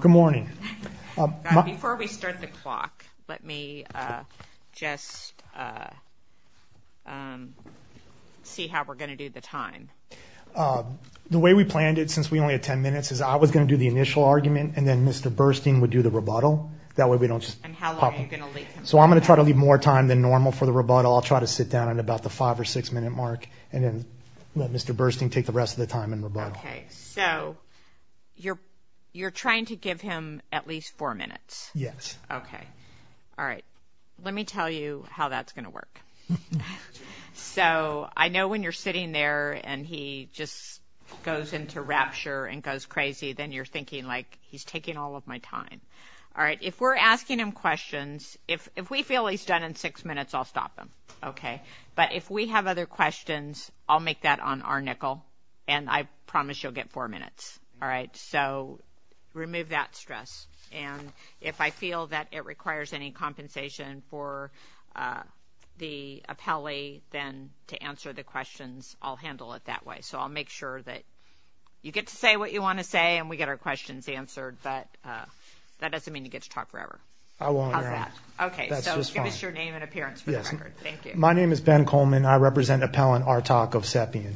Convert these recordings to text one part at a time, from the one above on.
Good morning. Before we start the clock let me just see how we're going to do the time. The way we planned it since we only had 10 minutes is I was going to do the initial argument and then Mr. Burstyn would do the rebuttal that way we don't so I'm gonna try to leave more time than normal for the rebuttal I'll try to sit down in about the five or six minute mark and then let Mr. Burstyn take the rest of the time in rebuttal. Okay so you're you're trying to give him at least four minutes? Yes. Okay all right let me tell you how that's gonna work so I know when you're sitting there and he just goes into rapture and goes crazy then you're thinking like he's taking all of my time all right if we're asking him questions if if we feel he's done in six minutes I'll stop them okay but if we have other questions I'll make that on our nickel and I promise you'll get four minutes all right so remove that stress and if I feel that it requires any compensation for the appellee then to answer the questions I'll handle it that way so I'll make sure that you get to say what you want to say and we get our questions answered but that doesn't mean you get to talk forever. I won't. Okay so give us your name and appearance. My name is Ben Coleman I represent Appellant Artak of Sepian.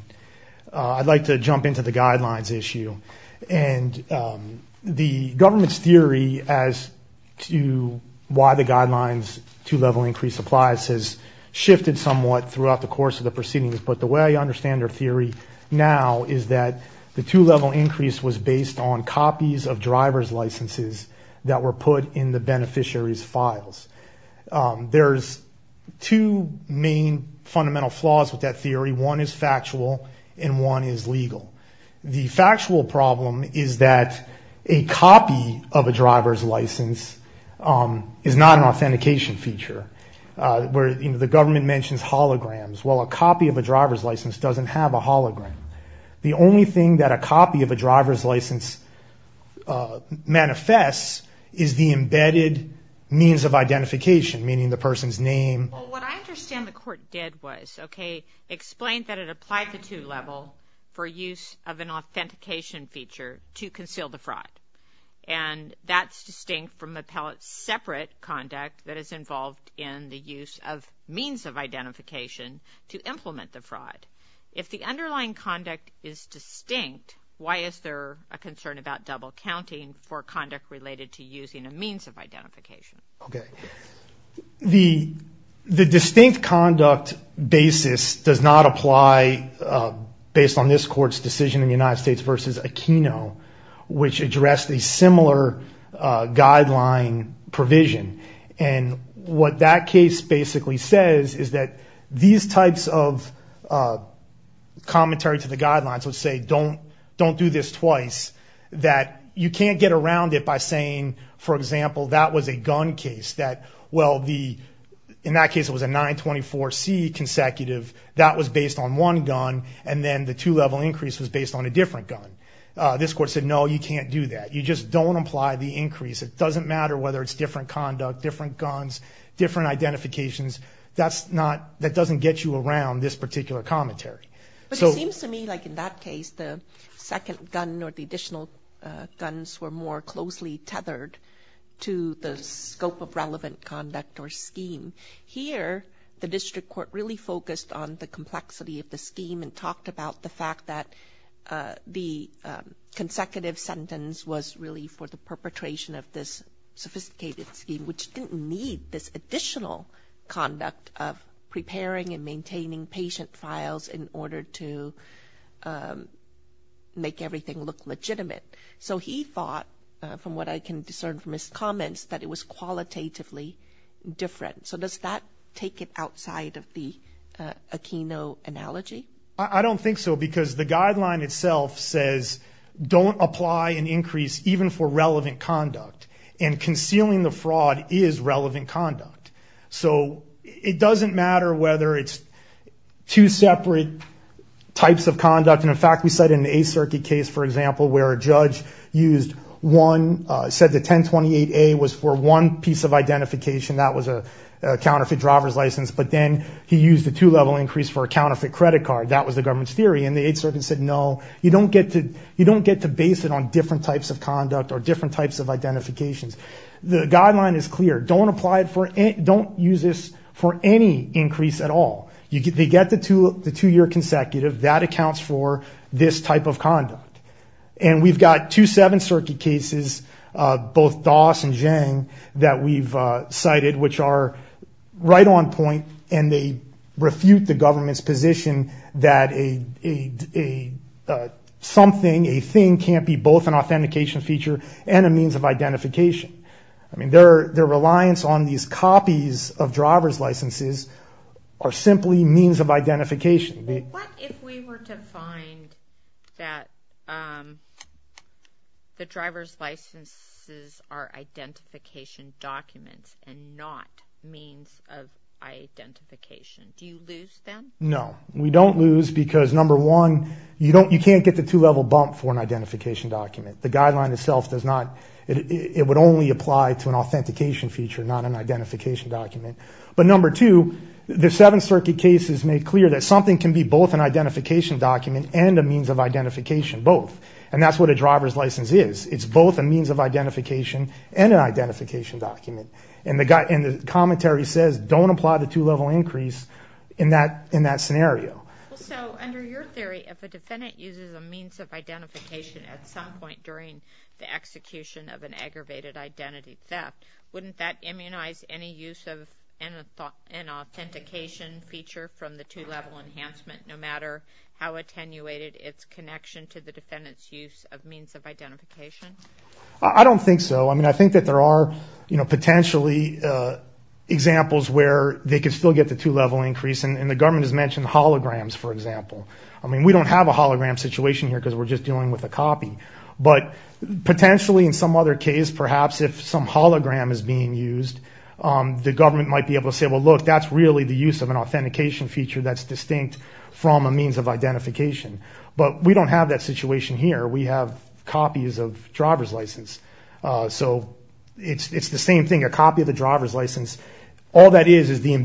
I'd like to jump into the guidelines issue and the government's theory as to why the guidelines two-level increase applies has shifted somewhat throughout the course of the proceedings but the way I understand their theory now is that the two-level increase was based on copies of driver's licenses that were put in the beneficiaries files. There's two main fundamental flaws with that theory one is factual and one is legal. The factual problem is that a copy of a driver's license is not an authentication feature where you know the government mentions holograms well a copy of a driver's license doesn't have a hologram. The only thing that a copy of a driver's license manifests is the embedded means of identification meaning the person's name. What I understand the court did was okay explain that it applied the two-level for use of an authentication feature to conceal the fraud and that's distinct from appellate separate conduct that is involved in the use of means of identification to implement the fraud. If the underlying conduct is distinct why is there a concern about double counting for conduct related to using a means of identification? The distinct conduct basis does not apply based on this court's decision in the United States versus Aquino which addressed a similar guideline provision and what that case basically says is that these types of commentary to the guidelines would say don't don't do this twice that you can't get around it by saying for example that was a gun case that well the in that case it was a 924 C consecutive that was based on one gun and then the two-level increase was based on a different gun. This court said no you can't do that you just don't apply the increase it doesn't matter whether it's different conduct different guns different identifications that's not that doesn't get you around this particular commentary. But it seems to me like in that case the second gun or the additional guns were more closely tethered to the scope of relevant conduct or scheme. Here the district court really focused on the complexity of the scheme and talked about the fact that the consecutive sentence was really for the perpetration of this sophisticated scheme which didn't need this additional conduct of preparing and make everything look legitimate. So he thought from what I can discern from his comments that it was qualitatively different. So does that take it outside of the Aquino analogy? I don't think so because the guideline itself says don't apply an increase even for relevant conduct and concealing the fraud is relevant conduct. So it doesn't matter whether it's two separate types of conduct and in fact we said in the 8th Circuit case for example where a judge used one said the 1028A was for one piece of identification that was a counterfeit driver's license but then he used a two-level increase for a counterfeit credit card that was the government's theory and the 8th Circuit said no you don't get to you don't get to base it on different types of conduct or different types of identifications. The guideline is clear don't apply it for it don't use this for any increase at all. They get the two year consecutive that accounts for this type of conduct and we've got two 7th Circuit cases both Doss and Zhang that we've cited which are right on point and they refute the government's position that a something a thing can't be both an authentication feature and a means of identification. I mean their reliance on these copies of driver's licenses are simply means of identification. What if we were to find that the driver's licenses are identification documents and not means of identification? Do you lose them? No we don't lose because number one you don't you can't get the two-level bump for an identification document the guideline itself does not it would only apply to an authentication feature not an identification document but number two the 7th Circuit case has made clear that something can be both an identification document and a means of identification both and that's what a driver's license is it's both a means of identification and an identification document and the guy in the commentary says don't apply the two-level increase in that in that scenario. So under your theory if a defendant uses a means of identification at some point during the execution of an aggravated identity theft wouldn't that immunize any use of an authentication feature from the two-level enhancement no matter how attenuated its connection to the defendant's use of means of identification? I don't think so I mean I think that there are you know potentially examples where they could still get the two-level increase and the government has mentioned holograms for example I mean we don't have a hologram situation here because we're just dealing with a copy but potentially in some other case perhaps if some hologram is being used the government might be able to say well look that's really the use of an authentication feature that's distinct from a means of identification but we don't have that situation here we have copies of driver's license so it's it's the same thing a copy of the driver's license all that is is the I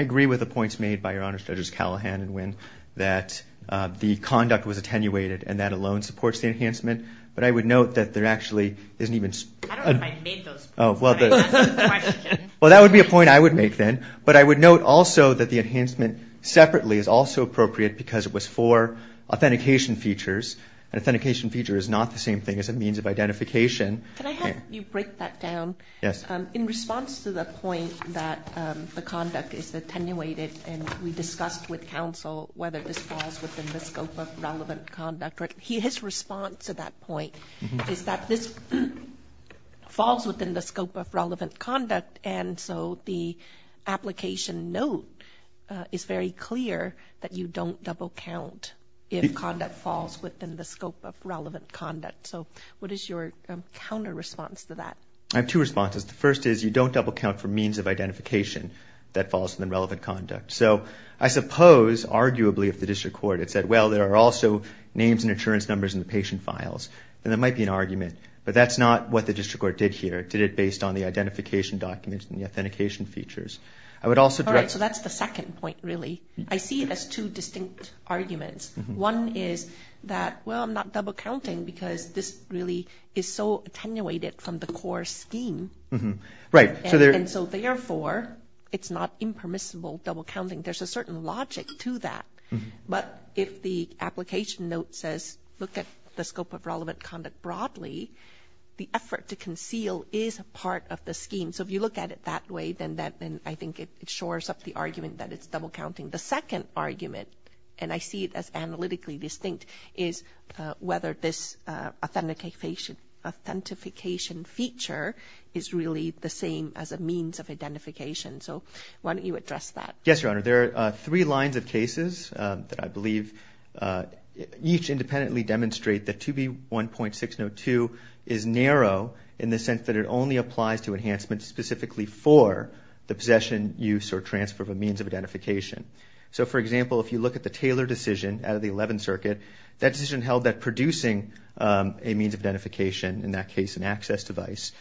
agree with the points made by your honor judges Callahan and Nguyen that the conduct was attenuated and that alone supports the enhancement but I would note that there actually isn't even well that would be a point I would make then but I would note also that the enhancement separately is also appropriate because it was for authentication features an authentication feature is not the same thing as a means of identification you break that down yes in response to the point that the conduct is attenuated and we discussed with counsel whether this falls within the scope of relevant conduct right he his response at that point is that this falls within the scope of relevant conduct and so the application note is very clear that you don't double count if conduct falls within the scope of relevant conduct so what is your counter response to that I have two responses the first is you don't double count for means of identification that falls within relevant conduct so I suppose arguably if the district court it said well there are also names and insurance numbers in the patient files and there might be an argument but that's not what the district court did here did it based on the identification documents and the authentication features I would also direct so that's the second point really I see it as two distinct arguments one is that well I'm not double counting because this really is so attenuated from the core scheme right so there and so therefore it's not impermissible double counting there's a certain logic to that but if the application note says look at the scope of relevant conduct broadly the effort to conceal is a part of the scheme so if look at it that way then that and I think it shores up the argument that it's double counting the second argument and I see it as analytically distinct is whether this authentication authentication feature is really the same as a means of identification so why don't you address that yes your honor there are three lines of cases that I believe each independently demonstrate that to be 1.602 is narrow in the sense that it only applies to enhancement specifically for the possession use or transfer of a means of identification so for example if you look at the Taylor decision out of the 11th circuit that decision held that producing a means of identification in that case an access device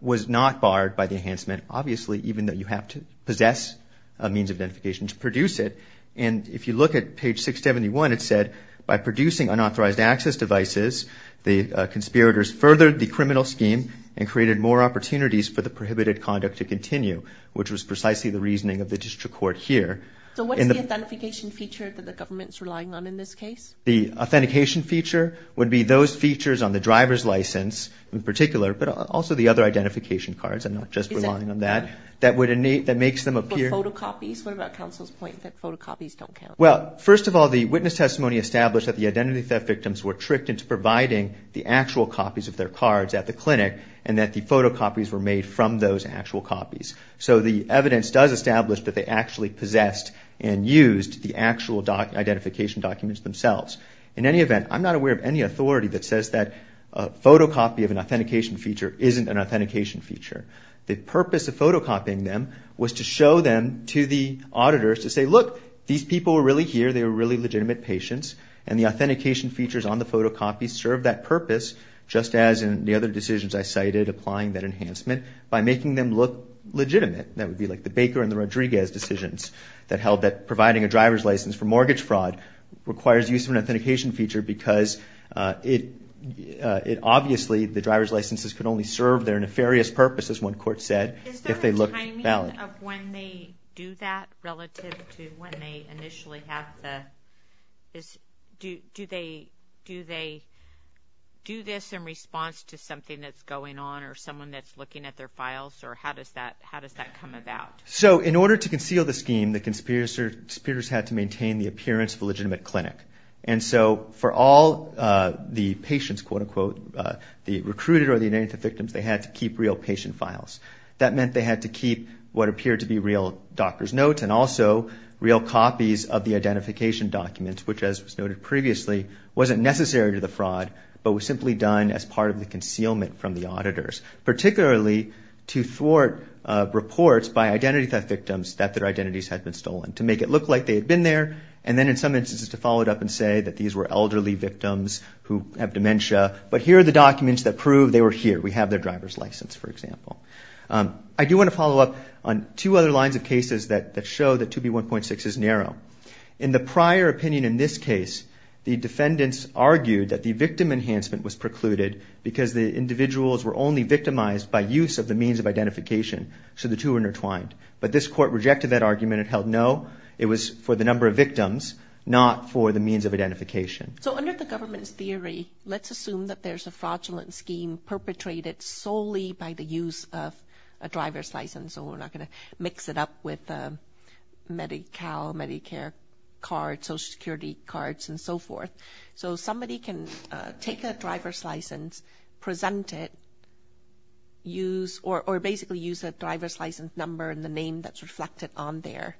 was not barred by the enhancement obviously even though you have to possess a means of identification to produce it and if you look at page 671 it said by producing unauthorized access devices the conspirators furthered the prohibited conduct to continue which was precisely the reasoning of the district court here so what is the authentication feature that the government's relying on in this case the authentication feature would be those features on the driver's license in particular but also the other identification cards and not just relying on that that would innate that makes them appear to copies what about counsel's point that photocopies don't count well first of all the witness testimony established that the identity theft victims were tricked into providing the actual copies of their cards at the clinic and that the photocopies were made from those actual copies so the evidence does establish that they actually possessed and used the actual doc identification documents themselves in any event I'm not aware of any authority that says that a photocopy of an authentication feature isn't an authentication feature the purpose of photocopying them was to show them to the auditors to say look these people are really here they were really legitimate patients and the authentication features on the photocopy serve that purpose just as in the other I cited applying that enhancement by making them look legitimate that would be like the Baker and the Rodriguez decisions that held that providing a driver's license for mortgage fraud requires use of an authentication feature because it it obviously the driver's licenses could only serve their nefarious purpose as one court said if they look valid when they do that relative to when they initially have the is do do they do they do this in response to something that's going on or someone that's looking at their files or how does that how does that come about so in order to conceal the scheme the conspirators had to maintain the appearance of a legitimate clinic and so for all the patients quote-unquote the recruited or the native victims they had to keep real patient files that meant they had to keep what appeared to be real doctor's notes and also real copies of the identification documents which as was noted previously wasn't necessary to the as part of the concealment from the auditors particularly to thwart reports by identity theft victims that their identities had been stolen to make it look like they had been there and then in some instances to follow it up and say that these were elderly victims who have dementia but here are the documents that prove they were here we have their driver's license for example I do want to follow up on two other lines of cases that that show that to be 1.6 is narrow in the prior opinion in this case the defendants argued that the victim enhancement was precluded because the individuals were only victimized by use of the means of identification so the two intertwined but this court rejected that argument it held no it was for the number of victims not for the means of identification so under the government's theory let's assume that there's a fraudulent scheme perpetrated solely by the use of a driver's license so we're not going to mix it up with medical Medicare card Social Security cards and so forth so somebody can take a driver's license present it use or basically use a driver's license number and the name that's reflected on there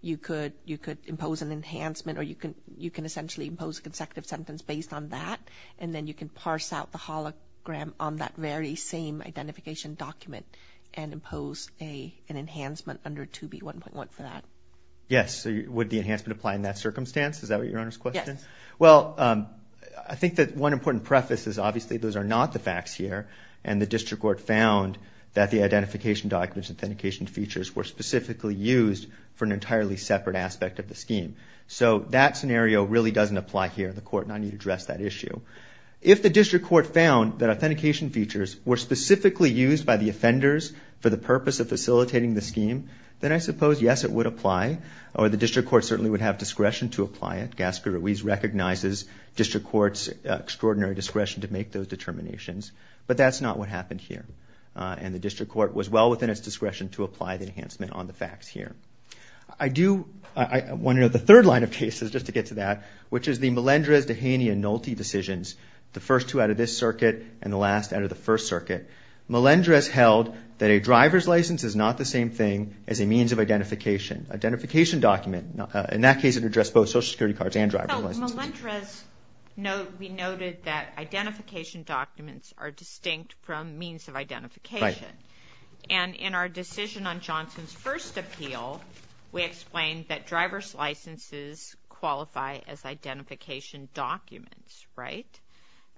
you could you could impose an enhancement or you can you can essentially impose a consecutive sentence based on that and then you can parse out the hologram on that very same identification document and impose a an enhancement under to be 1.1 for that yes would the enhancement apply in that well I think that one important preface is obviously those are not the facts here and the district court found that the identification documents authentication features were specifically used for an entirely separate aspect of the scheme so that scenario really doesn't apply here the court and I need to address that issue if the district court found that authentication features were specifically used by the offenders for the purpose of facilitating the scheme then I suppose yes it would apply or the recognizes district courts extraordinary discretion to make those determinations but that's not what happened here and the district court was well within its discretion to apply the enhancement on the facts here I do I wonder the third line of cases just to get to that which is the Melendrez Dehaney and Nolte decisions the first two out of this circuit and the last out of the first circuit Melendrez held that a driver's license is not the same thing as a means of identification identification document in that case it address both Social Security cards and driver's license no we noted that identification documents are distinct from means of identification and in our decision on Johnson's first appeal we explained that driver's licenses qualify as identification documents right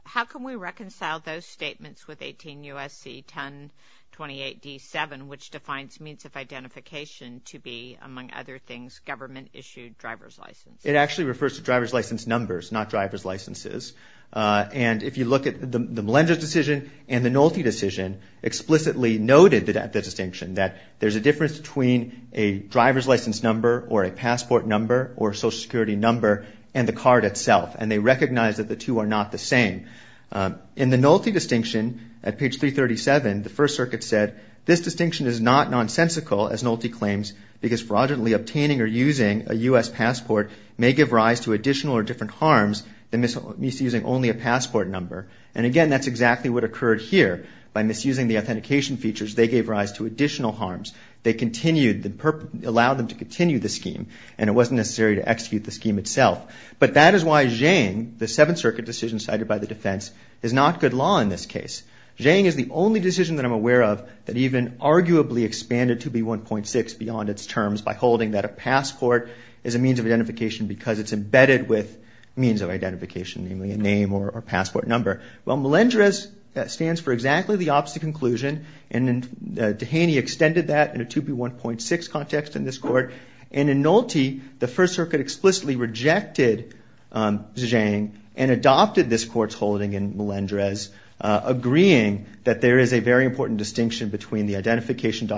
how can we reconcile those statements with 18 USC 1028 d7 which defines means of identification to be other things government issued driver's license it actually refers to driver's license numbers not driver's licenses and if you look at the Melendrez decision and the Nolte decision explicitly noted that at the distinction that there's a difference between a driver's license number or a passport number or Social Security number and the card itself and they recognize that the two are not the same in the Nolte distinction at page 337 the first circuit said this distinction is not nonsensical as Nolte claims because for example misusing a U.S. passport may give rise to additional or different harms than misusing only a passport number and again that's exactly what occurred here by misusing the authentication features they gave rise to additional harms they continued the allowed them to continue the scheme and it wasn't necessary to execute the scheme itself but that is why Zhang the Seventh Circuit decision cited by the defense is not good law in this case Zhang is the only decision that I'm aware of that even arguably expanded to 2B1.6 beyond its terms by holding that a passport is a means of identification because it's embedded with means of identification namely a name or passport number well Melendrez that stands for exactly the opposite conclusion and Dehaney extended that in a 2B1.6 context in this court and in Nolte the First Circuit explicitly rejected Zhang and adopted this court's holding in Melendrez agreeing that there is a very important distinction between the identification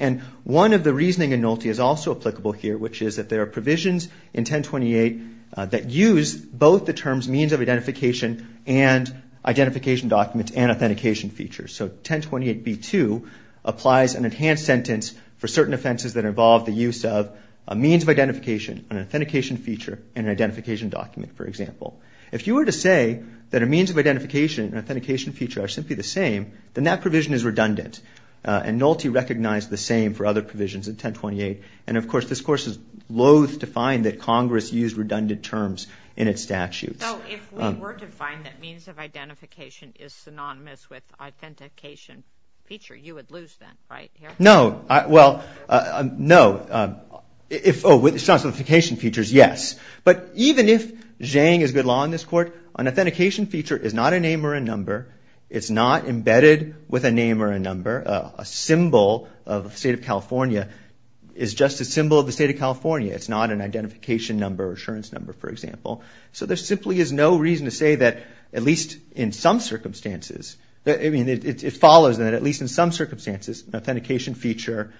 and one of the reasoning in Nolte is also applicable here which is that there are provisions in 1028 that use both the terms means of identification and identification documents and authentication features so 1028b2 applies an enhanced sentence for certain offenses that involve the use of a means of identification an authentication feature and an identification document for example if you were to say that a means of identification and authentication feature are simply the same then that is and Nolte recognized the same for other provisions in 1028 and of course this course is loathe to find that Congress used redundant terms in its statutes. So if we were to find that means of identification is synonymous with authentication feature you would lose then right? No well no if oh with identification features yes but even if Zhang is good law in this court an authentication feature is not a name or a number it's not embedded with a name or a number a symbol of the state of California is just a symbol of the state of California it's not an identification number assurance number for example so there simply is no reason to say that at least in some circumstances I mean it follows that at least in some circumstances authentication feature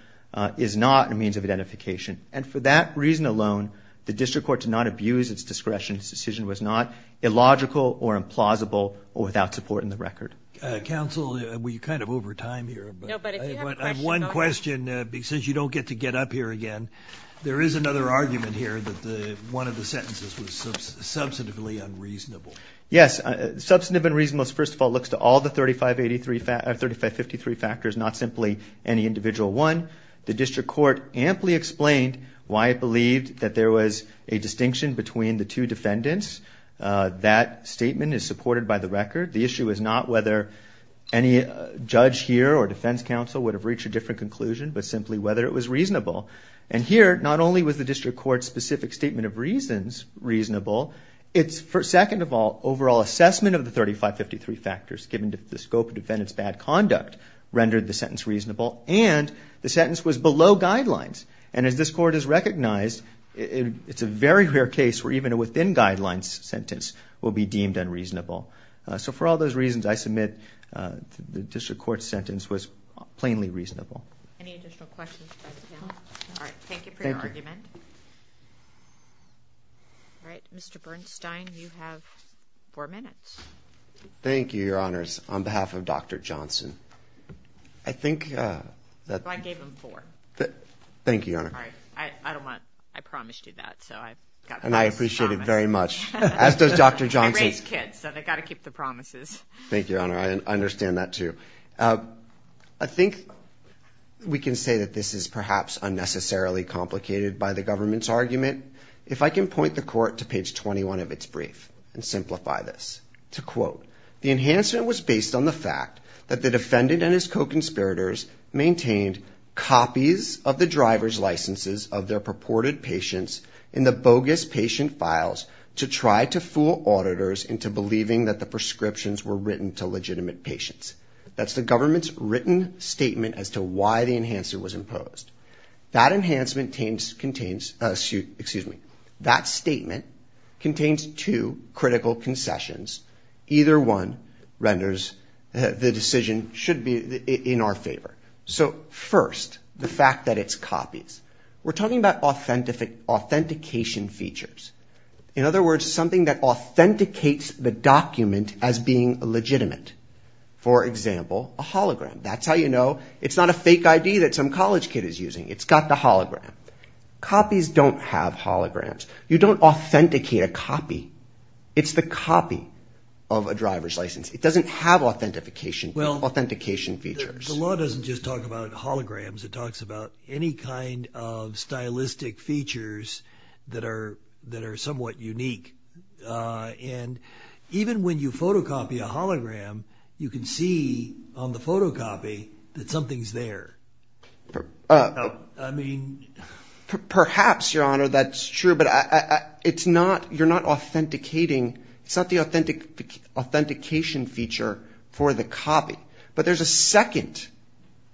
is not a means of identification and for that reason alone the district court to not abuse its discretion decision was not illogical or implausible or without support in the record. Counsel we kind of over time here but I have one question because you don't get to get up here again there is another argument here that the one of the sentences was substantively unreasonable. Yes substantive and reasonableness first of all looks to all the 3583 fact or 3553 factors not simply any individual one the district court amply explained why it believed that there was a distinction between the two defendants that statement is supported by the record the issue is not whether any judge here or defense counsel would have reached a different conclusion but simply whether it was reasonable and here not only was the district court specific statement of reasons reasonable it's for second of all overall assessment of the 3553 factors given to the scope of defendants bad conduct rendered the sentence reasonable and the sentence was below guidelines and as this court is recognized it's a very rare case where even within guidelines sentence will be deemed unreasonable so for all those reasons I submit the district court sentence was plainly reasonable. Any additional questions? All right. Thank you for your argument. Thank you. All right. Mr. Bernstein you have four minutes. Thank you your honors on behalf of Dr. Johnson. I think that. I gave him four. Thank you your honor. All right. I don't want. I promised you that so I got. And I appreciate it very much as does Dr. Johnson's kids so they got to keep the promises. Thank you your honor. I understand that too. I think we can say that this is perhaps unnecessarily complicated by the government's argument if I can point the court to page 21 of its brief and simplify this to quote the enhancement was based on the fact that the defendant and his co-conspirators maintained copies of the driver's licenses of their purported patients in the bogus patient files to try to fool auditors into believing that the prescriptions were written to legitimate patients. That's the government's written statement as to why the enhancer was imposed. That enhancement contains excuse me that statement contains two critical concessions either one renders the decision should be in our favor. So first the fact that it's copies. We're talking about authentic authentication features. In other words something that authenticates the document as being legitimate. For example a hologram. That's how you know it's not a fake ID that some college kid is using. It's got the hologram. Copies don't have holograms. You don't authenticate a copy. It's the copy of a driver's license. It doesn't have authentication. Well authentication features the law doesn't just talk about holograms. It talks about any kind of stylistic features that are that are somewhat unique. And even when you photocopy a hologram you can see on the photocopy that something's there. I mean perhaps your honor that's true but it's not you're not authenticating. It's not the authentic authentication feature for the copy. But there's a second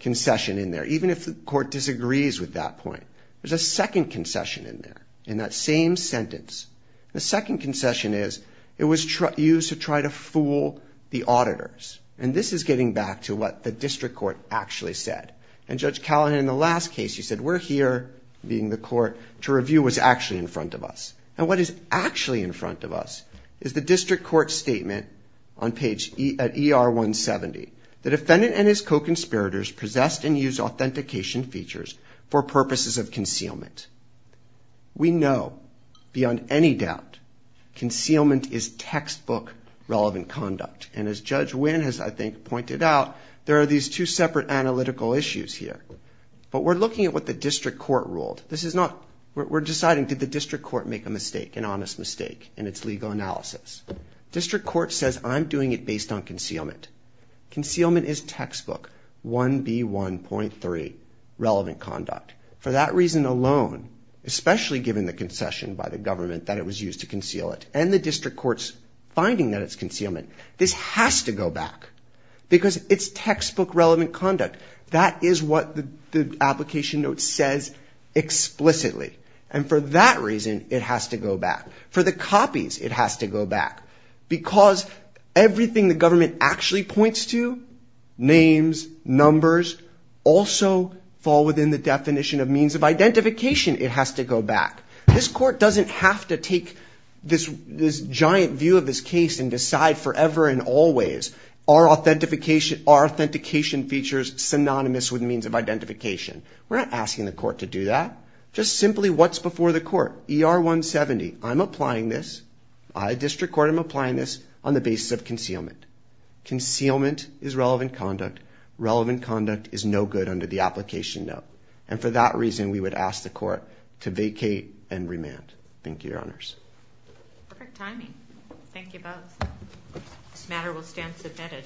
concession in there. Even if the court disagrees with that point. There's a second concession in there. In that same sentence. The second concession is it was used to try to fool the auditors. And this is getting back to what the district court actually said. And Judge Callahan in the last case he said we're here, being the court, to review what's actually in front of us. And what is actually in front of us is the district court statement on page ER 170. The defendant and his co-conspirators possessed and used authentication features for purposes of concealment. We know beyond any doubt concealment is textbook relevant conduct. And as Judge Winn has I think pointed out, there are these two separate analytical issues here. But we're looking at what the district court ruled. This is not, we're deciding did the district court make a mistake, an honest mistake in its legal analysis. District court says I'm doing it based on concealment. Concealment is textbook, 1B1.3, relevant conduct. For that reason alone, especially given the concession by the government that it was used to conceal it. And the district court's finding that it's concealment. This has to go back. Because it's textbook relevant conduct. That is what the application note says explicitly. And for that reason it has to go back. For the copies it has to go back. Because everything the government actually points to, names, numbers, also fall within the definition of means of identification it has to go back. This court doesn't have to take this giant view of this case and decide forever and always are authentication features synonymous with means of identification. We're not asking the court to do that. Just simply what's before the court. ER 170, I'm applying this. I, district court, I'm applying this on the basis of concealment. Concealment is relevant conduct. Relevant conduct is no good under the application note. And for that reason we would ask the court to vacate and remand. Thank you, your honors. Perfect timing. Thank you both. This matter will stand submitted.